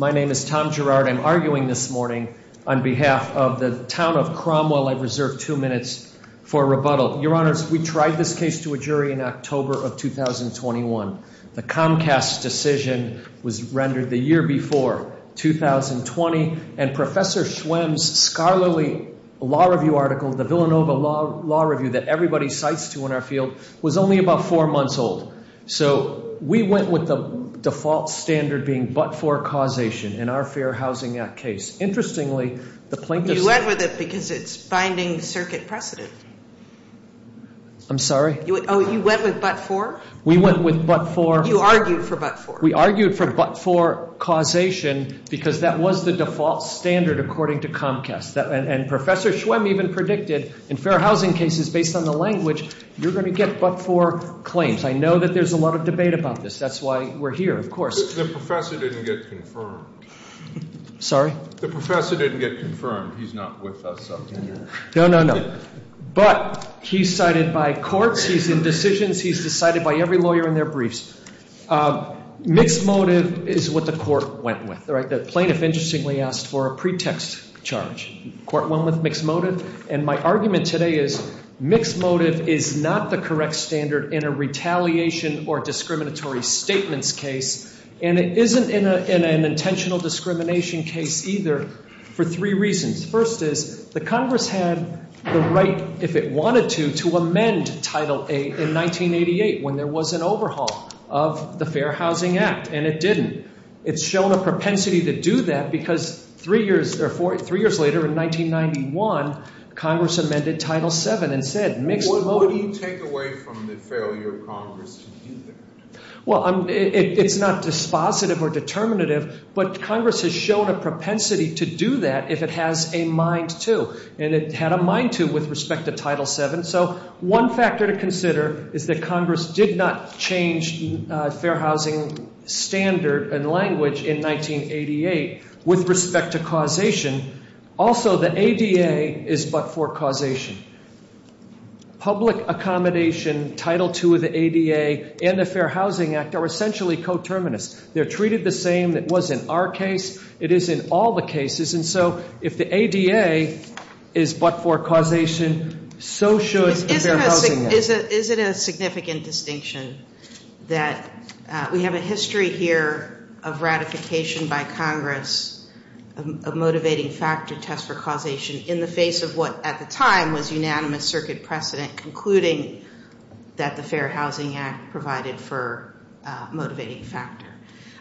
My name is Tom Girard. I'm arguing this morning on behalf of the town of Cromwell. I've reserved two minutes for rebuttal. Your Honors, we tried this case to a jury in October of 2021. The Comcast decision was rendered the year before, 2020. And Professor Schwemm's scholarly law review article, the Villanova Law Review that everybody cites to in our field, was only about four months old. So we went with the default standard being but-for causation in our Fair Housing Act case. Interestingly, the plaintiff's... You went with it because it's binding circuit precedent. I'm sorry? Oh, you went with but-for? We went with but-for. You argued for but-for. We argued for but-for causation because that was the default standard according to Comcast. And Professor Schwemm even predicted in fair housing cases, based on the language, you're going to get but-for claims. I know that there's a lot of debate about this. That's why we're here, of course. The professor didn't get confirmed. Sorry? The professor didn't get confirmed. He's not with us on that. No, no, no. But he's cited by courts. He's in decisions. He's decided by every lawyer in their briefs. Mixed motive is what the court went with. The plaintiff, interestingly, asked for a pretext charge. The court went with mixed motive. And my argument today is mixed motive is not the correct standard in a retaliation or discriminatory statements case. And it isn't in an intentional discrimination case either for three reasons. First is the Congress had the right, if it wanted to, to amend Title VIII in 1988 when there was an overhaul of the Fair Housing Act, and it didn't. It's shown a propensity to do that because three years later, in 1991, Congress amended Title VII and said mixed motive. What do you take away from the failure of Congress to do that? Well, it's not dispositive or determinative, but Congress has shown a propensity to do that if it has a mind to. And it had a mind to with respect to Title VII. And so one factor to consider is that Congress did not change Fair Housing standard and language in 1988 with respect to causation. Also, the ADA is but for causation. Public accommodation, Title II of the ADA, and the Fair Housing Act are essentially coterminous. They're treated the same that was in our case. It is in all the cases. And so if the ADA is but for causation, so should the Fair Housing Act. Is it a significant distinction that we have a history here of ratification by Congress of motivating factor test for causation in the face of what at the time was unanimous circuit precedent, including that the Fair Housing Act provided for motivating factor?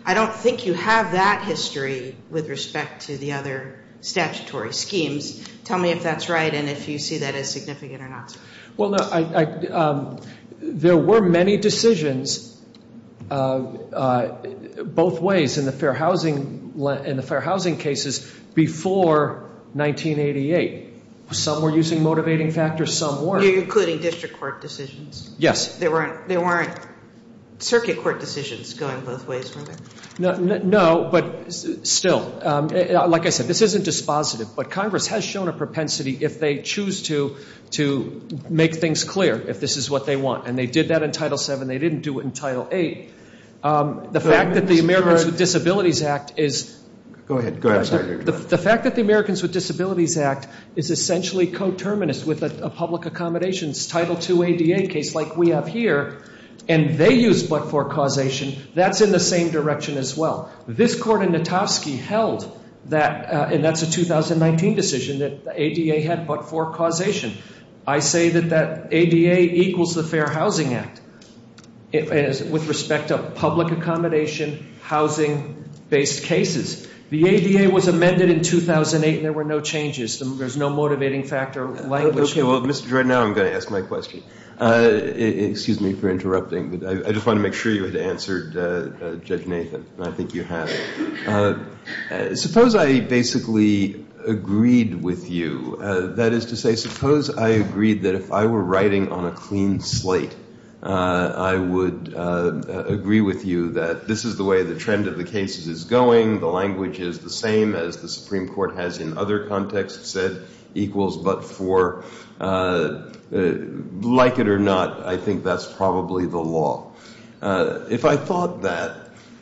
I don't think you have that history with respect to the other statutory schemes. Tell me if that's right and if you see that as significant or not. Well, there were many decisions both ways in the Fair Housing cases before 1988. Some were using motivating factors, some weren't. You're including district court decisions? Yes. There weren't circuit court decisions going both ways, were there? No, but still, like I said, this isn't dispositive. But Congress has shown a propensity, if they choose to, to make things clear, if this is what they want. And they did that in Title VII. They didn't do it in Title VIII. The fact that the Americans with Disabilities Act is essentially coterminous with a public accommodation, Title II ADA case like we have here, and they use but-for causation, that's in the same direction as well. This court in Notovsky held that, and that's a 2019 decision, that the ADA had but-for causation. I say that that ADA equals the Fair Housing Act with respect to public accommodation, housing-based cases. The ADA was amended in 2008 and there were no changes. There's no motivating factor. Okay, well, Mr. Jordan, now I'm going to ask my question. Excuse me for interrupting, but I just want to make sure you had answered Judge Nathan, and I think you have. Suppose I basically agreed with you, that is to say, suppose I agreed that if I were writing on a clean slate, I would agree with you that this is the way the trend of the cases is going, the language is the same as the Supreme Court has in other contexts said, equals but-for. Like it or not, I think that's probably the law. If I thought that,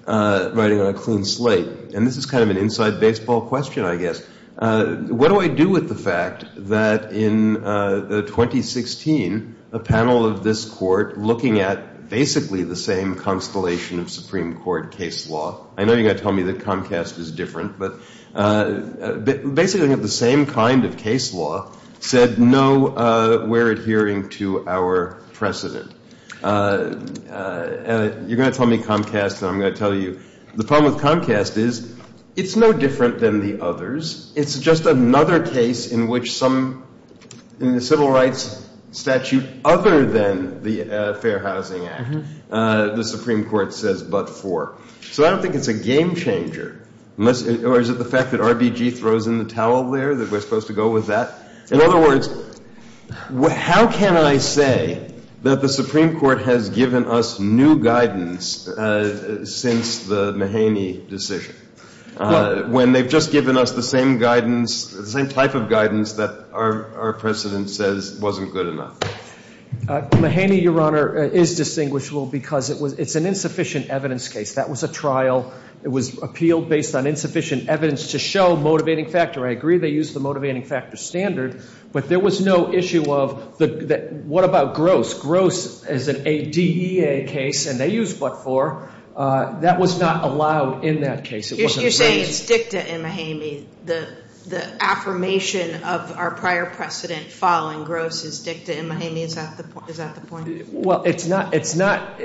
writing on a clean slate, and this is kind of an inside baseball question, I guess, what do I do with the fact that in 2016, a panel of this court looking at basically the same constellation of Supreme Court case law, I know you're going to tell me that Comcast is different, but basically looking at the same kind of case law said, no, we're adhering to our precedent. You're going to tell me Comcast, and I'm going to tell you. The problem with Comcast is it's no different than the others. It's just another case in which some civil rights statute other than the Fair Housing Act, the Supreme Court says but-for. So I don't think it's a game changer. Or is it the fact that RBG throws in the towel there, that we're supposed to go with that? In other words, how can I say that the Supreme Court has given us new guidance since the Mahaney decision, when they've just given us the same guidance, the same type of guidance that our precedent says wasn't good enough? Mahaney, Your Honor, is distinguishable because it's an insufficient evidence case. That was a trial. It was appealed based on insufficient evidence to show motivating factor. I agree they used the motivating factor standard, but there was no issue of what about Gross? Gross is an ADEA case, and they used but-for. That was not allowed in that case. You're saying it's dicta in Mahaney. The affirmation of our prior precedent following Gross is dicta in Mahaney. Is that the point? Well, it's not. It's not.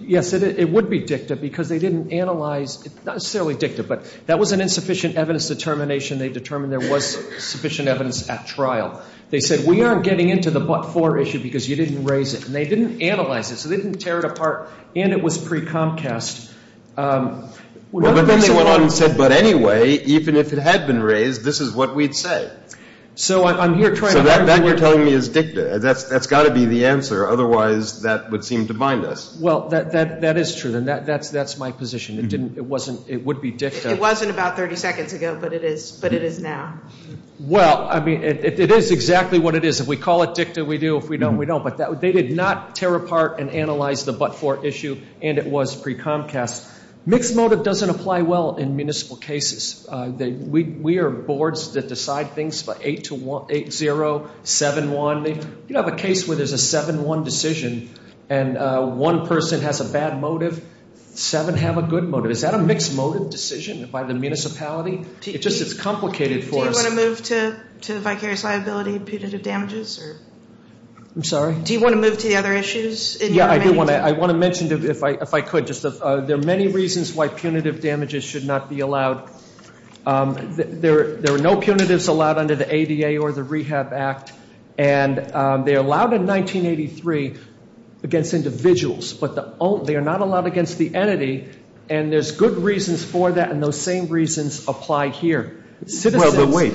Yes, it would be dicta because they didn't analyze. Not necessarily dicta, but that was an insufficient evidence determination. They determined there was sufficient evidence at trial. They said we aren't getting into the but-for issue because you didn't raise it, and they didn't analyze it. So they didn't tear it apart, and it was pre-Comcast. Well, but then they went on and said, but anyway, even if it had been raised, this is what we'd say. So I'm here trying to work with you. So that you're telling me is dicta. That's got to be the answer. Otherwise, that would seem to bind us. Well, that is true, and that's my position. It didn't. It wasn't. It would be dicta. It wasn't about 30 seconds ago, but it is now. Well, I mean, it is exactly what it is. If we call it dicta, we do. If we don't, we don't. But they did not tear apart and analyze the but-for issue, and it was pre-Comcast. Mixed motive doesn't apply well in municipal cases. We are boards that decide things by 8-0, 7-1. You don't have a case where there's a 7-1 decision, and one person has a bad motive. Seven have a good motive. Is that a mixed motive decision by the municipality? It's just it's complicated for us. Do you want to move to vicarious liability and punitive damages? I'm sorry? Do you want to move to the other issues? Yeah, I do want to. I want to mention, if I could, just there are many reasons why punitive damages should not be allowed. There are no punitives allowed under the ADA or the Rehab Act, and they are allowed in 1983 against individuals, but they are not allowed against the entity, and there's good reasons for that, and those same reasons apply here. Well, but wait.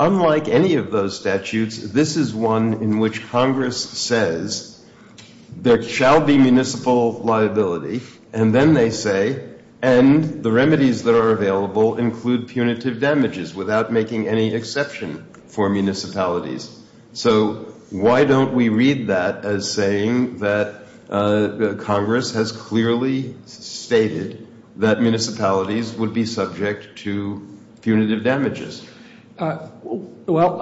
Unlike any of those statutes, this is one in which Congress says there shall be municipal liability, and then they say, and the remedies that are available include punitive damages, without making any exception for municipalities. So why don't we read that as saying that Congress has clearly stated that municipalities would be subject to punitive damages? Well,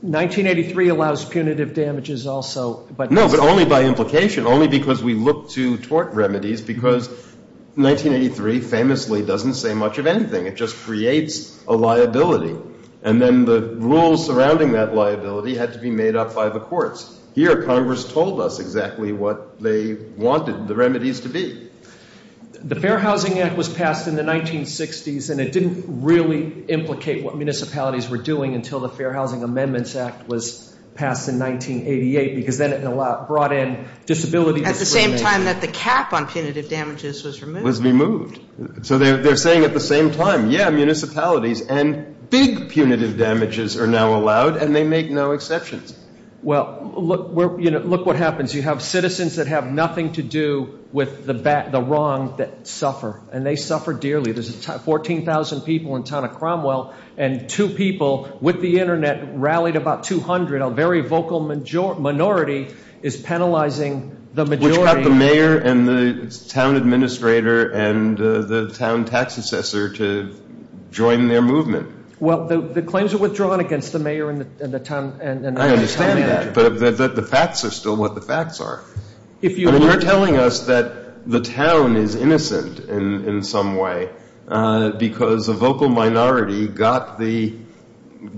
1983 allows punitive damages also. No, but only by implication, only because we look to tort remedies, because 1983 famously doesn't say much of anything. It just creates a liability, and then the rules surrounding that liability had to be made up by the courts. Here Congress told us exactly what they wanted the remedies to be. The Fair Housing Act was passed in the 1960s, and it didn't really implicate what municipalities were doing until the Fair Housing Amendments Act was passed in 1988, because then it brought in disability discrimination. At the same time that the cap on punitive damages was removed. Was removed. So they're saying at the same time, yeah, municipalities and big punitive damages are now allowed, and they make no exceptions. Well, look what happens. You have citizens that have nothing to do with the wrong that suffer, and they suffer dearly. There's 14,000 people in the town of Cromwell, and two people with the Internet rallied about 200. A very vocal minority is penalizing the majority. Which got the mayor and the town administrator and the town tax assessor to join their movement. Well, the claims are withdrawn against the mayor and the town. I understand that. But the facts are still what the facts are. You're telling us that the town is innocent in some way, because a vocal minority got the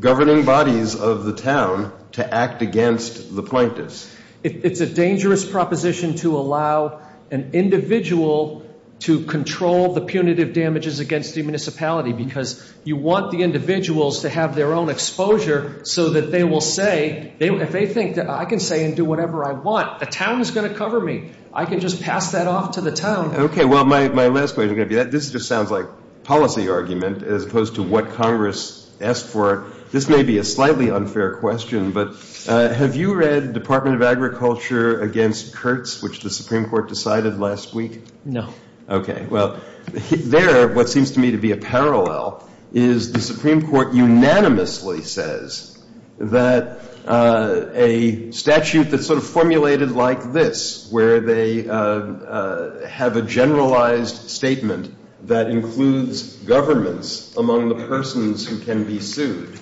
governing bodies of the town to act against the plaintiffs. It's a dangerous proposition to allow an individual to control the punitive damages against the municipality, because you want the individuals to have their own exposure so that they will say, if they think that I can say and do whatever I want, the town is going to cover me. I can just pass that off to the town. Okay. Well, my last question, this just sounds like policy argument as opposed to what Congress asked for. This may be a slightly unfair question, but have you read Department of Agriculture against Kurtz, which the Supreme Court decided last week? No. Okay. Well, there what seems to me to be a parallel is the Supreme Court unanimously says that a statute that's sort of formulated like this, where they have a generalized statement that includes governments among the persons who can be sued,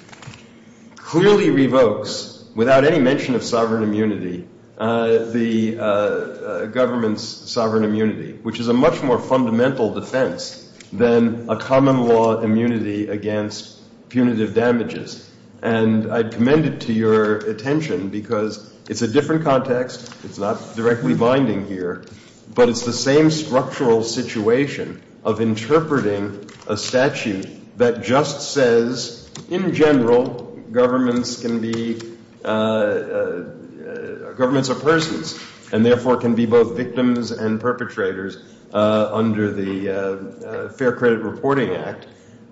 clearly revokes, without any mention of sovereign immunity, the government's sovereign immunity, which is a much more fundamental defense than a common law immunity against punitive damages. And I commend it to your attention because it's a different context, it's not directly binding here, but it's the same structural situation of interpreting a statute that just says, in general, governments are persons and, therefore, can be both victims and perpetrators under the Fair Credit Reporting Act.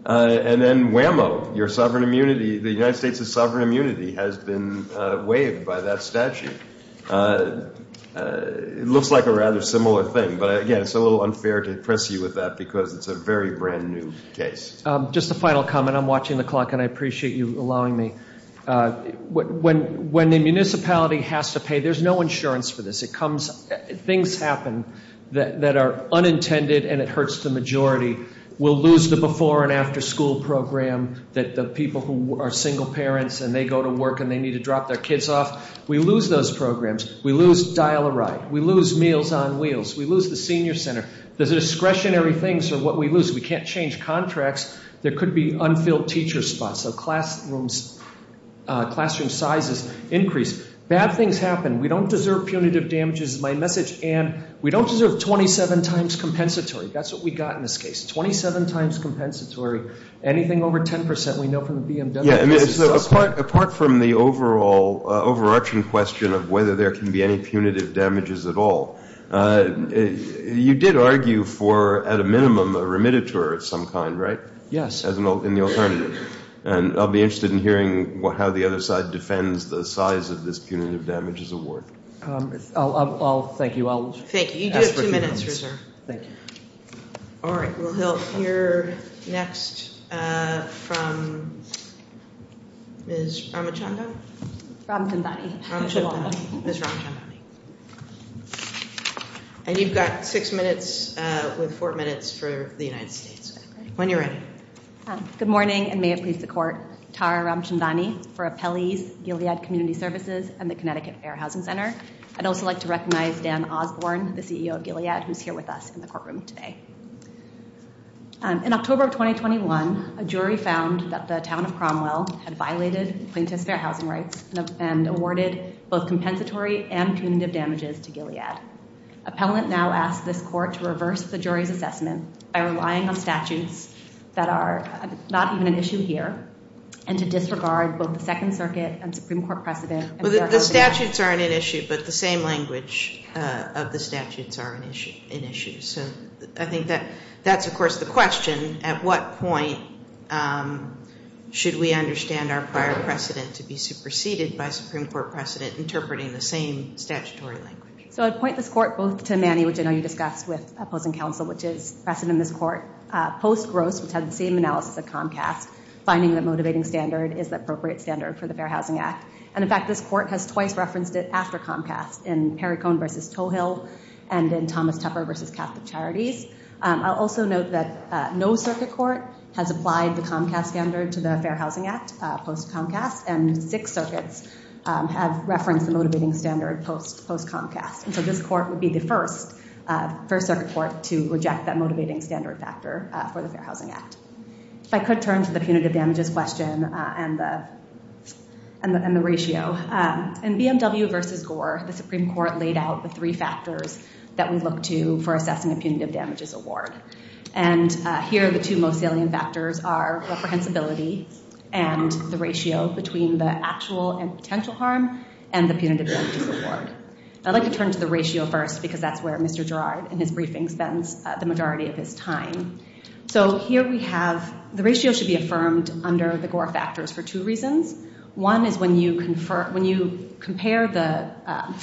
And then, whammo, your sovereign immunity, the United States' sovereign immunity has been waived by that statute. It looks like a rather similar thing. But, again, it's a little unfair to impress you with that because it's a very brand-new case. Just a final comment. I'm watching the clock and I appreciate you allowing me. When the municipality has to pay, there's no insurance for this. It comes, things happen that are unintended and it hurts the majority. We'll lose the before and after school program that the people who are single parents and they go to work and they need to drop their kids off. We lose those programs. We lose Dial-a-Ride. We lose Meals on Wheels. We lose the Senior Center. The discretionary things are what we lose. We can't change contracts. There could be unfilled teacher spots. So classroom sizes increase. Bad things happen. We don't deserve punitive damages, is my message. And we don't deserve 27 times compensatory. That's what we got in this case, 27 times compensatory. Anything over 10 percent, we know from the BMW. Yeah, I mean, so apart from the overall overarching question of whether there can be any punitive damages at all, you did argue for, at a minimum, a remediator of some kind, right? Yes. As an alternative. And I'll be interested in hearing how the other side defends the size of this punitive damages award. I'll thank you. Thank you. You do have two minutes reserved. Thank you. All right, we'll hear next from Ms. Ramachandran. Ramchandran. Ramchandran. Ms. Ramchandran. And you've got six minutes with four minutes for the United States. When you're ready. Good morning, and may it please the court. Tara Ramchandran for Appellees, Gilead Community Services, and the Connecticut Fair Housing Center. I'd also like to recognize Dan Osborne, the CEO of Gilead, who's here with us in the courtroom today. In October of 2021, a jury found that the town of Cromwell had violated plaintiff's fair housing rights and awarded both compensatory and punitive damages to Gilead. Appellant now asks this court to reverse the jury's assessment by relying on statutes that are not even an issue here and to disregard both the Second Circuit and Supreme Court precedent. The statutes aren't an issue, but the same language of the statutes are an issue. So I think that's, of course, the question. At what point should we understand our prior precedent to be superseded by Supreme Court precedent interpreting the same statutory language? So I'd point this court both to Manny, which I know you discussed with opposing counsel, which is precedent in this court post-Gross, which had the same analysis of Comcast, finding the motivating standard is the appropriate standard for the Fair Housing Act. And in fact, this court has twice referenced it after Comcast, in Perry Cohn v. Toehill and in Thomas Tupper v. Catholic Charities. I'll also note that no circuit court has applied the Comcast standard to the Fair Housing Act post-Comcast, and six circuits have referenced the motivating standard post-Comcast. And so this court would be the first circuit court to reject that motivating standard factor for the Fair Housing Act. If I could turn to the punitive damages question and the ratio. So in BMW v. Gore, the Supreme Court laid out the three factors that we look to for assessing a punitive damages award. And here the two most salient factors are reprehensibility and the ratio between the actual and potential harm and the punitive damages award. I'd like to turn to the ratio first because that's where Mr. Gerard in his briefing spends the majority of his time. So here we have the ratio should be affirmed under the Gore factors for two reasons. One is when you compare the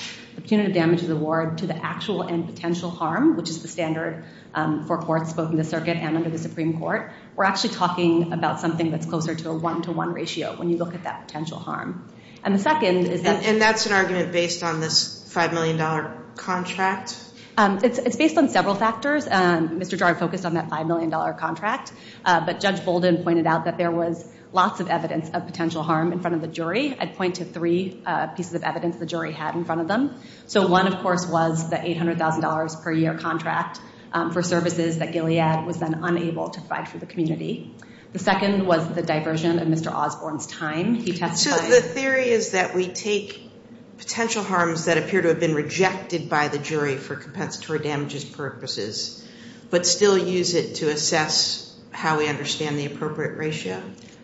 punitive damages award to the actual and potential harm, which is the standard for courts both in the circuit and under the Supreme Court, we're actually talking about something that's closer to a one-to-one ratio when you look at that potential harm. And the second is that- And that's an argument based on this $5 million contract? It's based on several factors. Mr. Gerard focused on that $5 million contract, but Judge Bolden pointed out that there was lots of evidence of potential harm in front of the jury. I'd point to three pieces of evidence the jury had in front of them. So one, of course, was the $800,000 per year contract for services that Gilead was then unable to provide for the community. The second was the diversion of Mr. Osborne's time. He testified- So the theory is that we take potential harms that appear to have been rejected by the jury for compensatory damages purposes but still use it to assess how we understand the appropriate ratio.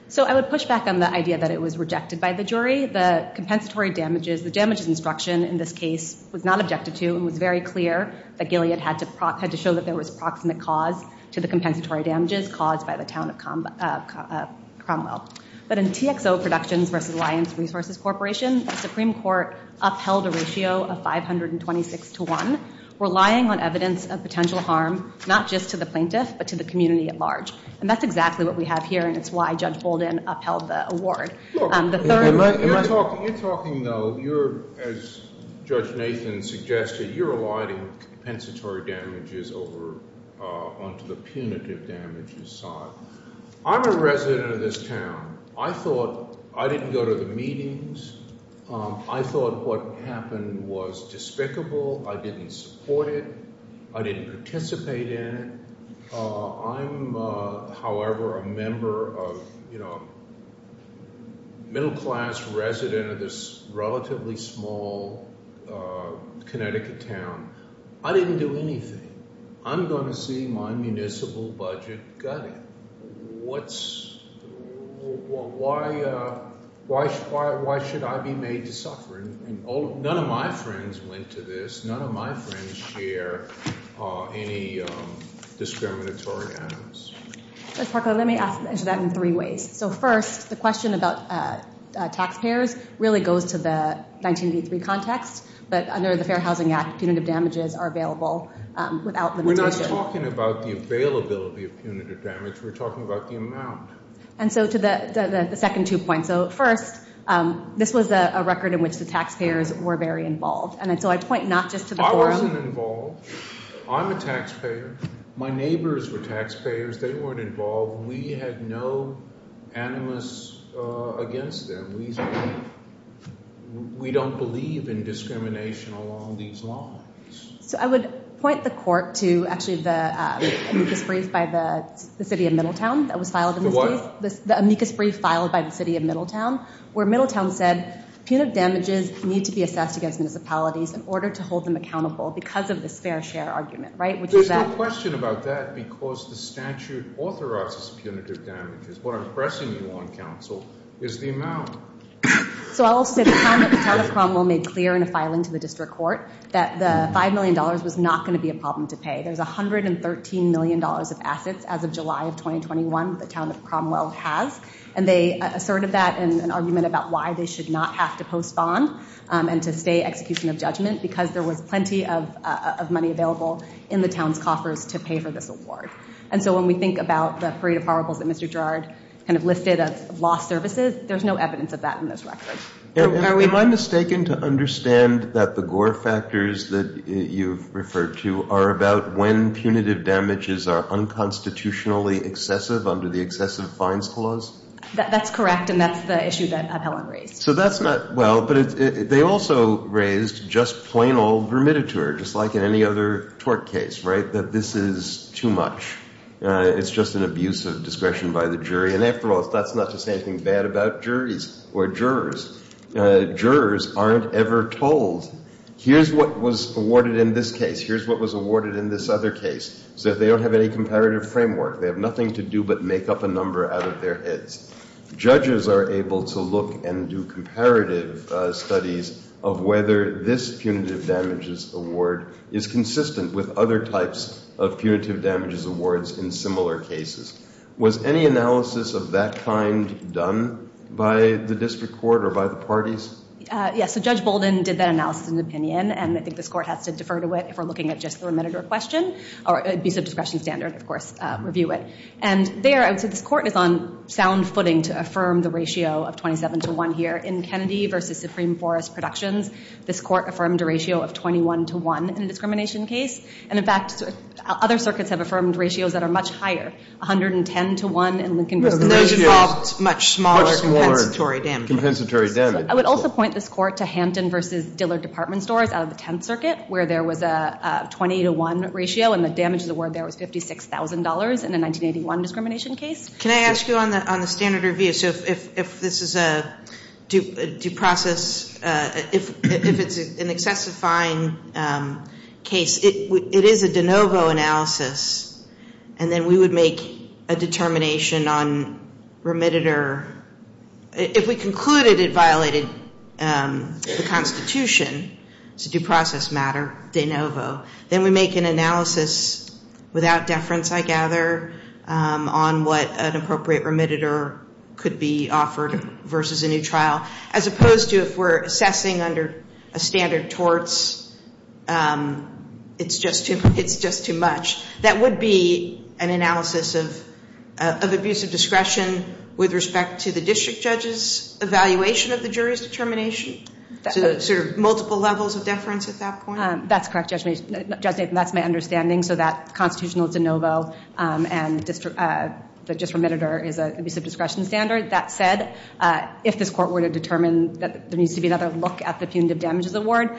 So I would push back on the idea that it was rejected by the jury. The compensatory damages-the damages instruction in this case was not objected to and was very clear that Gilead had to show that there was proximate cause to the compensatory damages caused by the town of Cromwell. But in TXO Productions v. Alliance Resources Corporation, the Supreme Court upheld a ratio of 526 to 1, relying on evidence of potential harm not just to the plaintiff but to the community at large. And that's exactly what we have here, and it's why Judge Bolden upheld the award. The third- You're talking, though, you're-as Judge Nathan suggested, you're aligning compensatory damages over onto the punitive damages side. I'm a resident of this town. I thought-I didn't go to the meetings. I thought what happened was despicable. I didn't support it. I didn't participate in it. I'm, however, a member of, you know, middle-class resident of this relatively small Connecticut town. I didn't do anything. I'm going to see my municipal budget gutted. What's-why should I be made to suffer? None of my friends went to this. None of my friends share any discriminatory items. Judge Parker, let me ask that in three ways. So, first, the question about taxpayers really goes to the 1983 context. But under the Fair Housing Act, punitive damages are available without limitation. We're not talking about the availability of punitive damage. We're talking about the amount. And so to the second two points. So, first, this was a record in which the taxpayers were very involved. And so I point not just to the forum. I wasn't involved. I'm a taxpayer. My neighbors were taxpayers. They weren't involved. We had no animus against them. We don't believe in discrimination along these lines. So I would point the court to actually the amicus brief by the city of Middletown that was filed in this case. The what? The amicus brief filed by the city of Middletown where Middletown said punitive damages need to be assessed against municipalities in order to hold them accountable because of this fair share argument, right? There's no question about that because the statute authorizes punitive damages. What I'm pressing you on, counsel, is the amount. So I'll say the town of Cromwell made clear in a filing to the district court that the $5 million was not going to be a problem to pay. There's $113 million of assets as of July of 2021 that the town of Cromwell has, and they asserted that in an argument about why they should not have to post bond and to stay execution of judgment because there was plenty of money available in the town's coffers to pay for this award. And so when we think about the parade of horribles that Mr. Gerard kind of listed of lost services, there's no evidence of that in this record. Am I mistaken to understand that the Gore factors that you've referred to are about when punitive damages are unconstitutionally excessive under the excessive fines clause? That's correct, and that's the issue that Appellant raised. So that's not well, but they also raised just plain old remittiture, just like in any other tort case, right, that this is too much. It's just an abuse of discretion by the jury. And after all, that's not to say anything bad about juries or jurors. Jurors aren't ever told, here's what was awarded in this case, here's what was awarded in this other case. So they don't have any comparative framework. They have nothing to do but make up a number out of their heads. Judges are able to look and do comparative studies of whether this punitive damages award is consistent with other types of punitive damages awards in similar cases. Was any analysis of that kind done by the district court or by the parties? Yes, so Judge Bolden did that analysis in an opinion, and I think this court has to defer to it if we're looking at just the remittiture question, or abuse of discretion standard, of course, review it. And there, I would say this court is on sound footing to affirm the ratio of 27 to 1 here. In Kennedy v. Supreme Forest Productions, this court affirmed a ratio of 21 to 1 in a discrimination case. And in fact, other circuits have affirmed ratios that are much higher, 110 to 1. Those involved much smaller compensatory damages. I would also point this court to Hampton v. Dillard Department Stores out of the Tenth Circuit, where there was a 20 to 1 ratio, and the damages award there was $56,000 in a 1981 discrimination case. Can I ask you on the standard review, so if this is a due process, if it's an excessive fine case, it is a de novo analysis, and then we would make a determination on remittiture. If we concluded it violated the Constitution, it's a due process matter, de novo. Then we make an analysis without deference, I gather, on what an appropriate remittiture could be offered versus a new trial. As opposed to if we're assessing under a standard torts, it's just too much. That would be an analysis of abusive discretion with respect to the district judge's evaluation of the jury's determination? So there are multiple levels of deference at that point? That's correct, Judge Nathan. That's my understanding. So that constitutional de novo and the district remittiture is an abusive discretion standard. That said, if this court were to determine that there needs to be another look at the punitive damages award,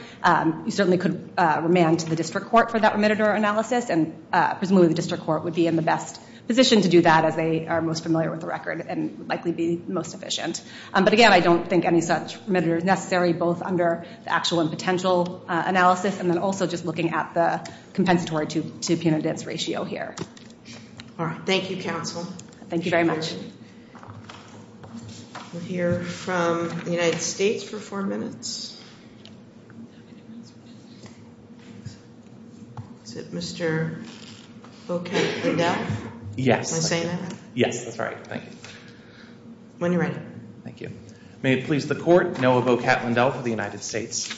you certainly could remand to the district court for that remittiture analysis, and presumably the district court would be in the best position to do that as they are most familiar with the record and would likely be most efficient. But again, I don't think any such remittiture is necessary, both under the actual and potential analysis, and then also just looking at the compensatory to punitive ratio here. All right. Thank you, counsel. Thank you very much. We'll hear from the United States for four minutes. Is it Mr. Bo-Kat Lindell? Yes. Can I say that? Yes, that's right. Thank you. When you're ready. Thank you. May it please the court, Noah Bo-Kat Lindell for the United States.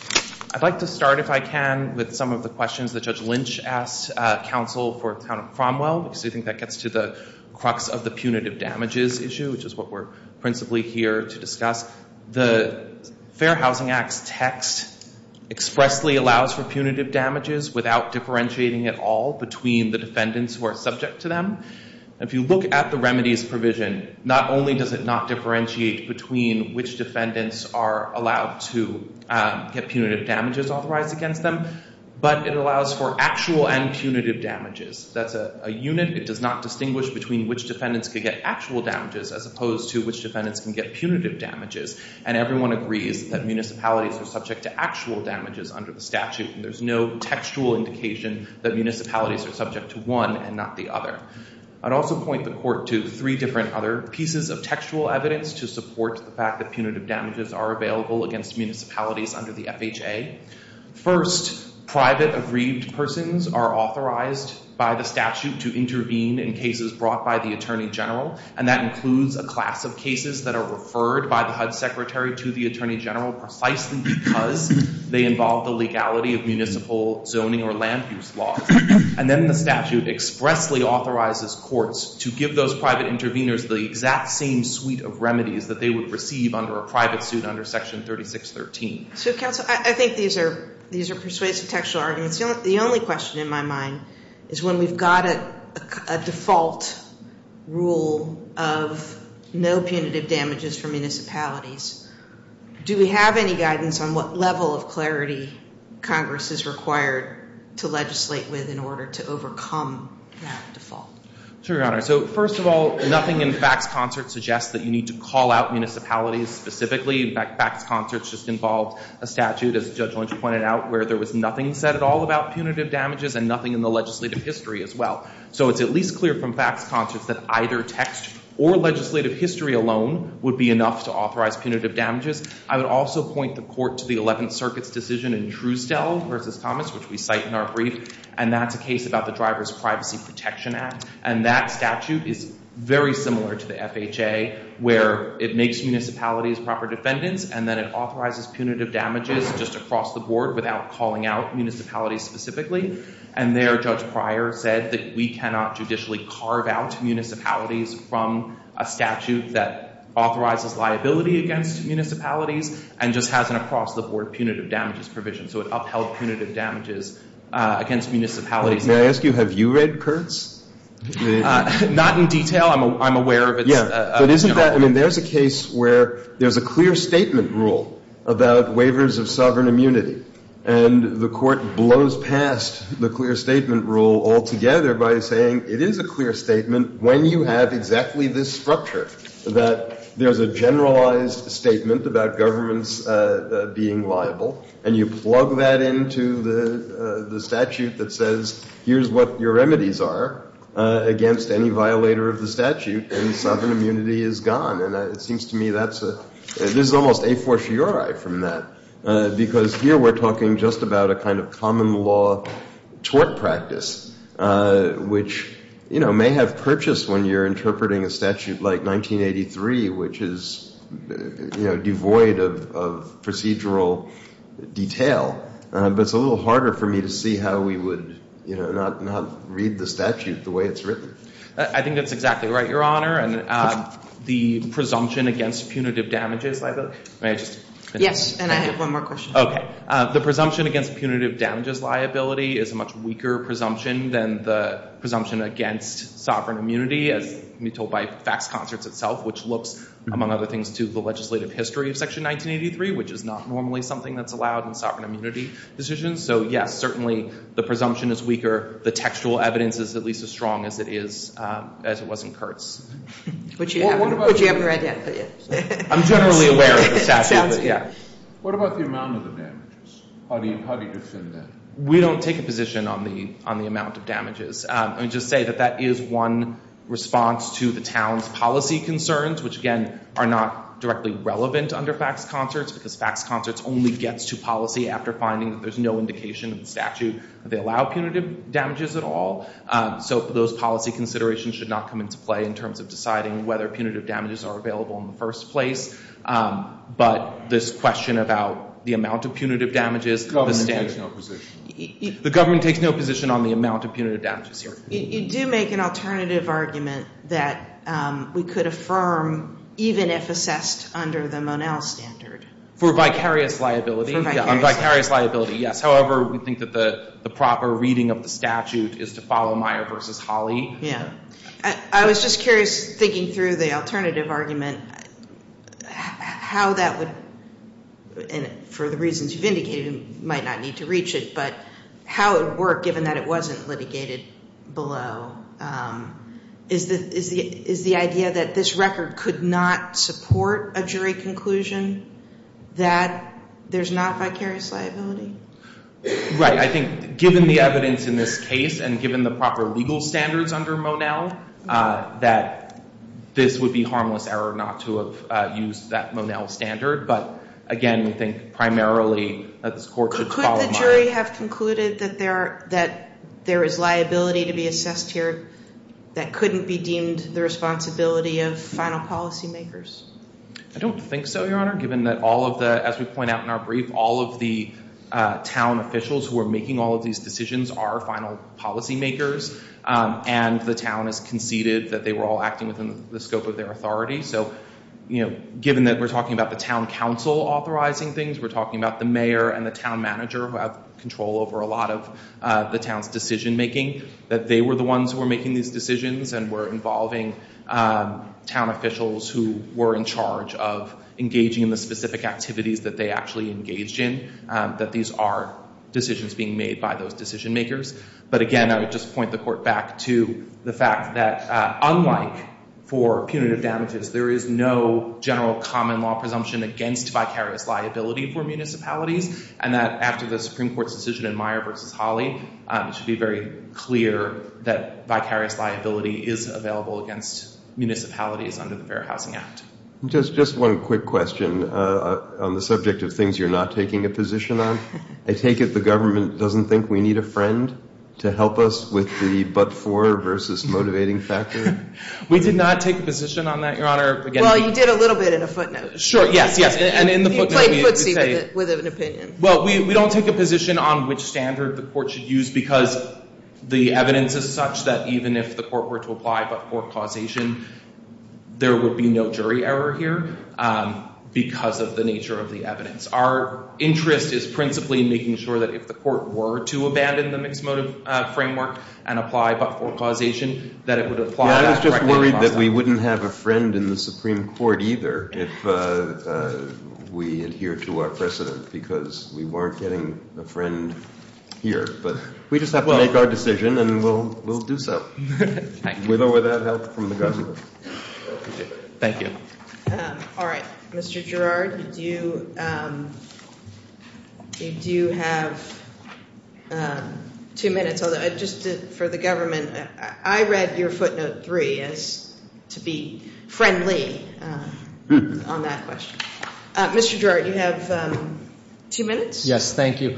I'd like to start, if I can, with some of the questions that Judge Lynch asked counsel for the town of Cromwell, because I think that gets to the crux of the punitive damages issue, which is what we're principally here to discuss. The Fair Housing Act's text expressly allows for punitive damages without differentiating at all between the defendants who are subject to them. If you look at the remedies provision, not only does it not differentiate between which defendants are allowed to get punitive damages authorized against them, but it allows for actual and punitive damages. That's a unit. It does not distinguish between which defendants could get actual damages as opposed to which defendants can get punitive damages. And everyone agrees that municipalities are subject to actual damages under the statute, and there's no textual indication that municipalities are subject to one and not the other. I'd also point the court to three different other pieces of textual evidence to support the fact that punitive damages are available against municipalities under the FHA. First, private aggrieved persons are authorized by the statute to intervene in cases brought by the Attorney General, and that includes a class of cases that are referred by the HUD Secretary to the Attorney General precisely because they involve the legality of municipal zoning or land use laws. And then the statute expressly authorizes courts to give those private interveners the exact same suite of remedies that they would receive under a private suit under Section 3613. So, counsel, I think these are persuasive textual arguments. The only question in my mind is when we've got a default rule of no punitive damages for municipalities, do we have any guidance on what level of clarity Congress is required to legislate with in order to overcome that default? Sure, Your Honor. So, first of all, nothing in facts concert suggests that you need to call out municipalities specifically. In fact, facts concert just involved a statute, as Judge Lynch pointed out, where there was nothing said at all about punitive damages and nothing in the legislative history as well. So it's at least clear from facts concert that either text or legislative history alone would be enough to authorize punitive damages. I would also point the court to the Eleventh Circuit's decision in Truestell v. Thomas, which we cite in our brief, and that's a case about the Driver's Privacy Protection Act, and that statute is very similar to the FHA where it makes municipalities proper defendants and then it authorizes punitive damages just across the board without calling out municipalities specifically. And there, Judge Pryor said that we cannot judicially carve out municipalities from a statute that authorizes liability against municipalities and just has an across-the-board punitive damages provision. So it upheld punitive damages against municipalities. May I ask you, have you read Kurtz? Not in detail. I'm aware of it. Yeah. But isn't that – I mean, there's a case where there's a clear statement rule about waivers of sovereign immunity, and the court blows past the clear statement rule altogether by saying it is a clear statement when you have exactly this structure, that there's a generalized statement about governments being liable, and you plug that into the statute that says here's what your remedies are against any violator of the statute. And sovereign immunity is gone. And it seems to me that's a – this is almost a fortiori from that because here we're talking just about a kind of common law tort practice, which may have purchased when you're interpreting a statute like 1983, which is devoid of procedural detail. But it's a little harder for me to see how we would not read the statute the way it's written. I think that's exactly right, Your Honor. And the presumption against punitive damages liability – may I just finish? Yes, and I have one more question. Okay. The presumption against punitive damages liability is a much weaker presumption than the presumption against sovereign immunity, as can be told by facts concerts itself, which looks, among other things, to the legislative history of Section 1983, which is not normally something that's allowed in sovereign immunity decisions. So, yes, certainly the presumption is weaker. The textual evidence is at least as strong as it is – as it was in Kurtz. Would you have it read yet? I'm generally aware of the statute, but yeah. What about the amount of the damages? How do you defend that? We don't take a position on the amount of damages. Let me just say that that is one response to the town's policy concerns, which, again, are not directly relevant under facts concerts because facts concerts only gets to policy after finding that there's no indication in the statute that they allow punitive damages at all. So those policy considerations should not come into play in terms of deciding whether punitive damages are available in the first place. But this question about the amount of punitive damages – The government takes no position. The government takes no position on the amount of punitive damages here. You do make an alternative argument that we could affirm, even if assessed under the Monell standard. For vicarious liability? Vicarious liability, yes. However, we think that the proper reading of the statute is to follow Meyer v. Holley. Yeah. I was just curious, thinking through the alternative argument, how that would – and for the reasons you've indicated, you might not need to reach it – but how it would work, given that it wasn't litigated below. Is the idea that this record could not support a jury conclusion that there's not vicarious liability? Right. I think, given the evidence in this case and given the proper legal standards under Monell, that this would be harmless error not to have used that Monell standard. But, again, we think primarily that this court should follow Meyer. Does the jury have concluded that there is liability to be assessed here that couldn't be deemed the responsibility of final policymakers? I don't think so, Your Honor, given that all of the – as we point out in our brief, all of the town officials who are making all of these decisions are final policymakers, and the town has conceded that they were all acting within the scope of their authority. So, given that we're talking about the town council authorizing things, we're talking about the mayor and the town manager who have control over a lot of the town's decision making, that they were the ones who were making these decisions and were involving town officials who were in charge of engaging in the specific activities that they actually engaged in, that these are decisions being made by those decision makers. But, again, I would just point the court back to the fact that, unlike for punitive damages, there is no general common law presumption against vicarious liability for municipalities, and that after the Supreme Court's decision in Meyer v. Hawley, it should be very clear that vicarious liability is available against municipalities under the Fair Housing Act. Just one quick question on the subject of things you're not taking a position on. I take it the government doesn't think we need a friend to help us with the but-for versus motivating factor? We did not take a position on that, Your Honor. Well, you did a little bit in a footnote. Sure, yes, yes. You played footsie with an opinion. Well, we don't take a position on which standard the court should use because the evidence is such that even if the court were to apply but-for causation, there would be no jury error here because of the nature of the evidence. Our interest is principally in making sure that if the court were to abandon the mix-motive framework and apply but-for causation, that it would apply that correctly. I was just worried that we wouldn't have a friend in the Supreme Court either if we adhere to our precedent because we weren't getting a friend here. But we just have to make our decision and we'll do so, with or without help from the government. Thank you. All right. Mr. Girard, you do have two minutes. Just for the government, I read your footnote three as to be friendly on that question. Mr. Girard, you have two minutes. Yes, thank you.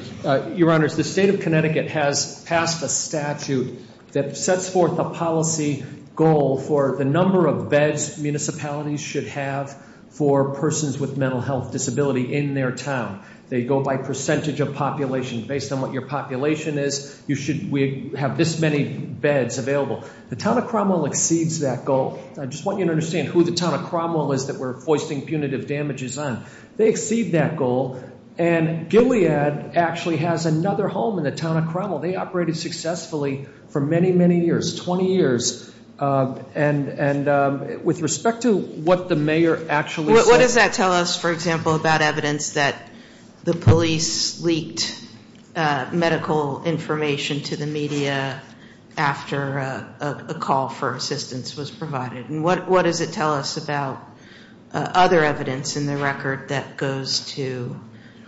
Your Honors, the State of Connecticut has passed a statute that sets forth a policy goal for the number of beds municipalities should have for persons with mental health disability in their town. They go by percentage of population. Based on what your population is, you should have this many beds available. The Town of Cromwell exceeds that goal. I just want you to understand who the Town of Cromwell is that we're foisting punitive damages on. They exceed that goal. And Gilead actually has another home in the Town of Cromwell. They operated successfully for many, many years, 20 years. And with respect to what the mayor actually said— medical information to the media after a call for assistance was provided. And what does it tell us about other evidence in the record that goes to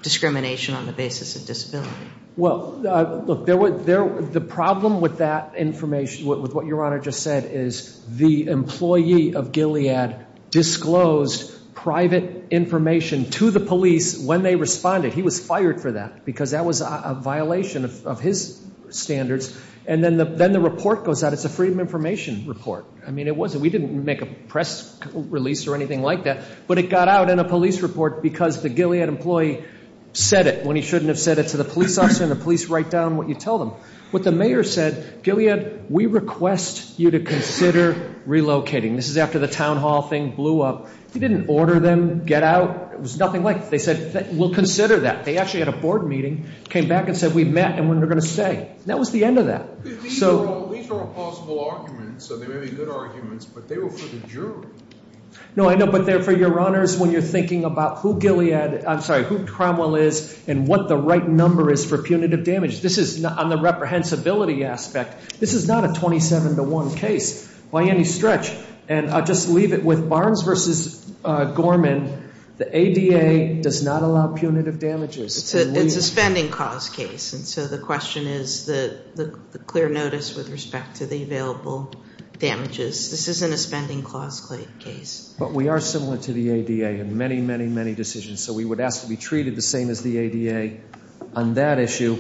discrimination on the basis of disability? Well, look, the problem with that information, with what your Honor just said, is the employee of Gilead disclosed private information to the police when they responded. He was fired for that because that was a violation of his standards. And then the report goes out. It's a freedom of information report. I mean, it wasn't—we didn't make a press release or anything like that. But it got out in a police report because the Gilead employee said it when he shouldn't have said it to the police officer and the police write down what you tell them. What the mayor said, Gilead, we request you to consider relocating. This is after the town hall thing blew up. He didn't order them get out. It was nothing like it. They said we'll consider that. They actually had a board meeting, came back and said we've met and we're going to stay. That was the end of that. These are all plausible arguments, so they may be good arguments, but they were for the jury. No, I know, but they're for your Honors when you're thinking about who Gilead—I'm sorry, who Cromwell is and what the right number is for punitive damage. This is on the reprehensibility aspect. This is not a 27 to 1 case by any stretch. And I'll just leave it with Barnes v. Gorman. The ADA does not allow punitive damages. It's a spending cause case, and so the question is the clear notice with respect to the available damages. This isn't a spending clause case. But we are similar to the ADA in many, many, many decisions, so we would ask to be treated the same as the ADA on that issue.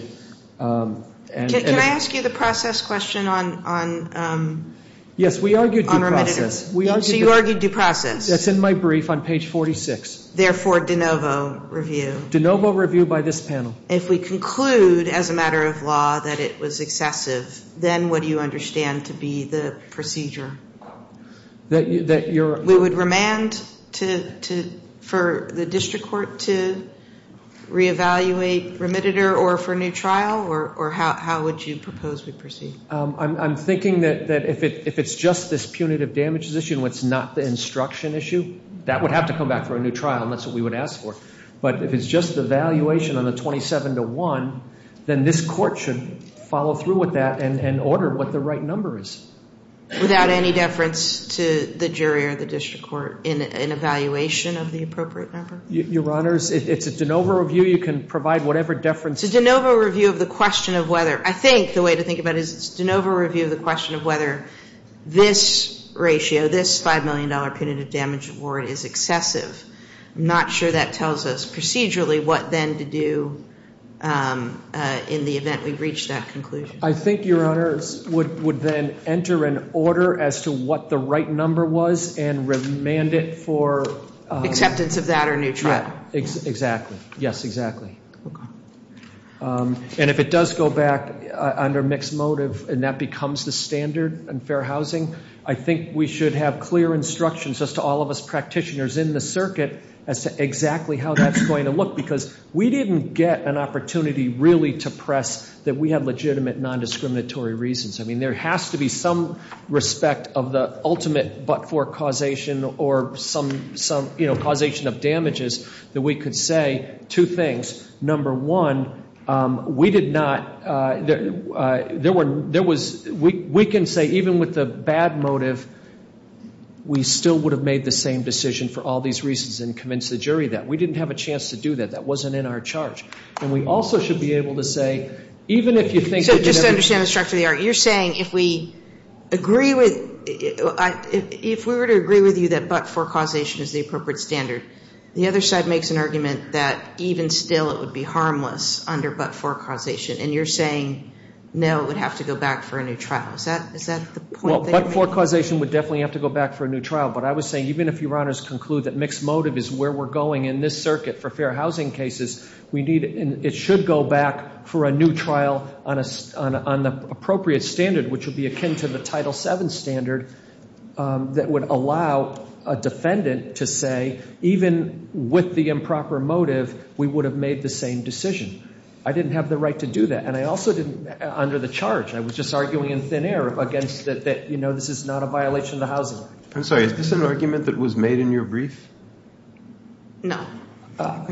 Can I ask you the process question on— Yes, we argued due process. So you argued due process. That's in my brief on page 46. Therefore, de novo review. De novo review by this panel. If we conclude as a matter of law that it was excessive, then what do you understand to be the procedure? That you're— We would remand for the district court to reevaluate remittitor or for a new trial, or how would you propose we proceed? I'm thinking that if it's just this punitive damages issue and it's not the instruction issue, that would have to come back for a new trial, and that's what we would ask for. But if it's just the valuation on the 27 to 1, then this court should follow through with that and order what the right number is. Without any deference to the jury or the district court in evaluation of the appropriate number? Your Honors, it's a de novo review. You can provide whatever deference— It's a de novo review of the question of whether— I think the way to think about it is it's a de novo review of the question of whether this ratio, this $5 million punitive damage award is excessive. I'm not sure that tells us procedurally what then to do in the event we reach that conclusion. I think, Your Honors, would then enter an order as to what the right number was and remand it for— Acceptance of that or a new trial. Exactly. Yes, exactly. And if it does go back under mixed motive and that becomes the standard in fair housing, I think we should have clear instructions as to all of us practitioners in the circuit as to exactly how that's going to look, because we didn't get an opportunity really to press that we have legitimate nondiscriminatory reasons. I mean, there has to be some respect of the ultimate but-for causation or causation of damages that we could say two things. Number one, we did not—there was—we can say even with the bad motive, we still would have made the same decision for all these reasons and convinced the jury that. We didn't have a chance to do that. That wasn't in our charge. And we also should be able to say, even if you think— So just to understand the structure of the argument, you're saying if we agree with— if we were to agree with you that but-for causation is the appropriate standard, the other side makes an argument that even still it would be harmless under but-for causation. And you're saying, no, it would have to go back for a new trial. Is that the point that you're making? Well, but-for causation would definitely have to go back for a new trial. But I was saying, even if Your Honors conclude that mixed motive is where we're going in this circuit for fair housing cases, we need—it should go back for a new trial on the appropriate standard, which would be akin to the Title VII standard that would allow a defendant to say, even with the improper motive, we would have made the same decision. I didn't have the right to do that. And I also didn't—under the charge. I was just arguing in thin air against that, you know, this is not a violation of the Housing Act. I'm sorry. Is this an argument that was made in your brief? No. Well,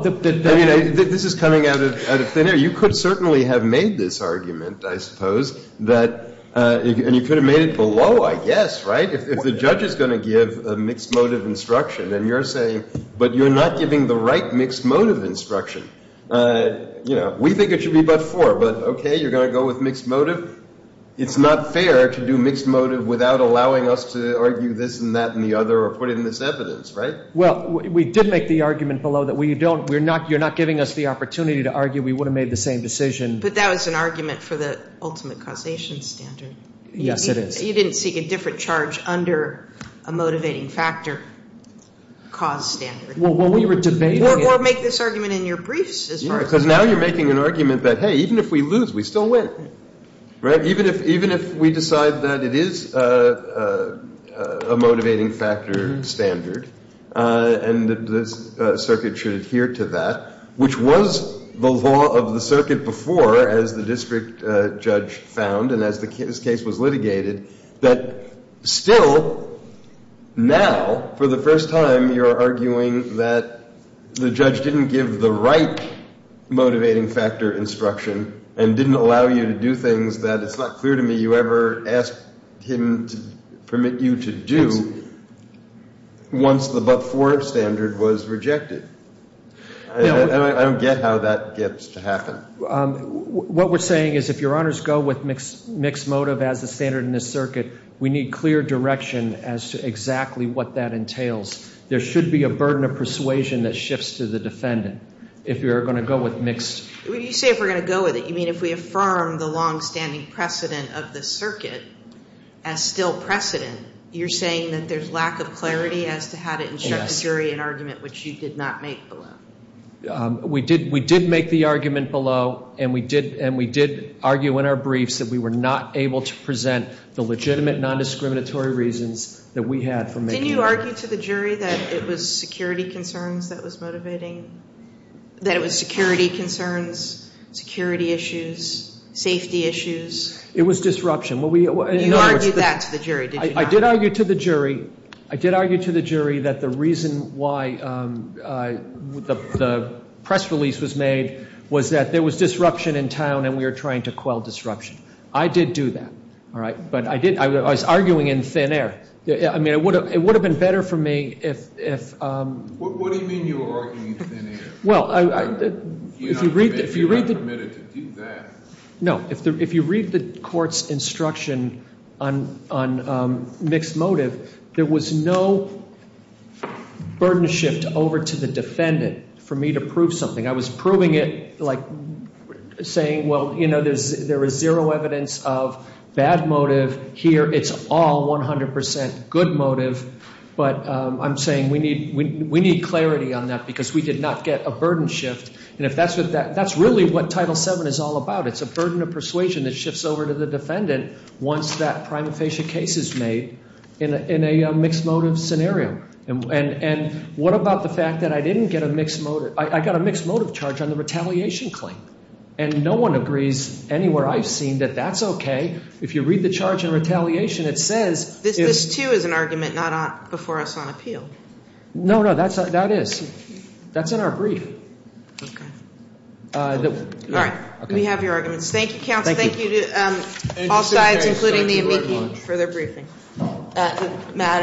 the— I mean, this is coming out of thin air. You could certainly have made this argument, I suppose, that—and you could have made it below, I guess, right, if the judge is going to give a mixed motive instruction. And you're saying, but you're not giving the right mixed motive instruction. You know, we think it should be but four. But, okay, you're going to go with mixed motive. It's not fair to do mixed motive without allowing us to argue this and that and the other or put it in this evidence, right? Well, we did make the argument below that we don't—we're not—you're not giving us the opportunity to argue that we would have made the same decision. But that was an argument for the ultimate causation standard. Yes, it is. You didn't seek a different charge under a motivating factor cause standard. Well, we were debating— Or make this argument in your briefs as far as— Yeah, because now you're making an argument that, hey, even if we lose, we still win, right? Even if we decide that it is a motivating factor standard and the circuit should adhere to that, which was the law of the circuit before, as the district judge found and as this case was litigated, that still now, for the first time, you're arguing that the judge didn't give the right motivating factor instruction and didn't allow you to do things that it's not clear to me you ever asked him to permit you to do once the but-for standard was rejected. And I don't get how that gets to happen. What we're saying is if Your Honors go with mixed motive as the standard in this circuit, we need clear direction as to exactly what that entails. There should be a burden of persuasion that shifts to the defendant if you're going to go with mixed— You say if we're going to go with it. You mean if we affirm the longstanding precedent of the circuit as still precedent, you're saying that there's lack of clarity as to how to instruct a jury in an argument which you did not make below? We did make the argument below, and we did argue in our briefs that we were not able to present the legitimate nondiscriminatory reasons that we had for making— Didn't you argue to the jury that it was security concerns that was motivating—that it was security concerns, security issues, safety issues? It was disruption. You argued that to the jury, did you not? I did argue to the jury. I did argue to the jury that the reason why the press release was made was that there was disruption in town, and we were trying to quell disruption. I did do that, but I was arguing in thin air. I mean, it would have been better for me if— What do you mean you were arguing in thin air? Well, if you read the— You're not permitted to do that. No, if you read the court's instruction on mixed motive, there was no burden shift over to the defendant for me to prove something. I was proving it like saying, well, you know, there is zero evidence of bad motive here. It's all 100% good motive, but I'm saying we need clarity on that because we did not get a burden shift. And if that's what—that's really what Title VII is all about. It's a burden of persuasion that shifts over to the defendant once that prima facie case is made in a mixed motive scenario. And what about the fact that I didn't get a mixed motive—I got a mixed motive charge on the retaliation claim, and no one agrees anywhere I've seen that that's okay. If you read the charge on retaliation, it says— This, too, is an argument not before us on appeal. No, no, that is. That's in our brief. Okay. All right. We have your arguments. Thank you, counsel. Thank you to all sides, including me and Mickey, for their briefing.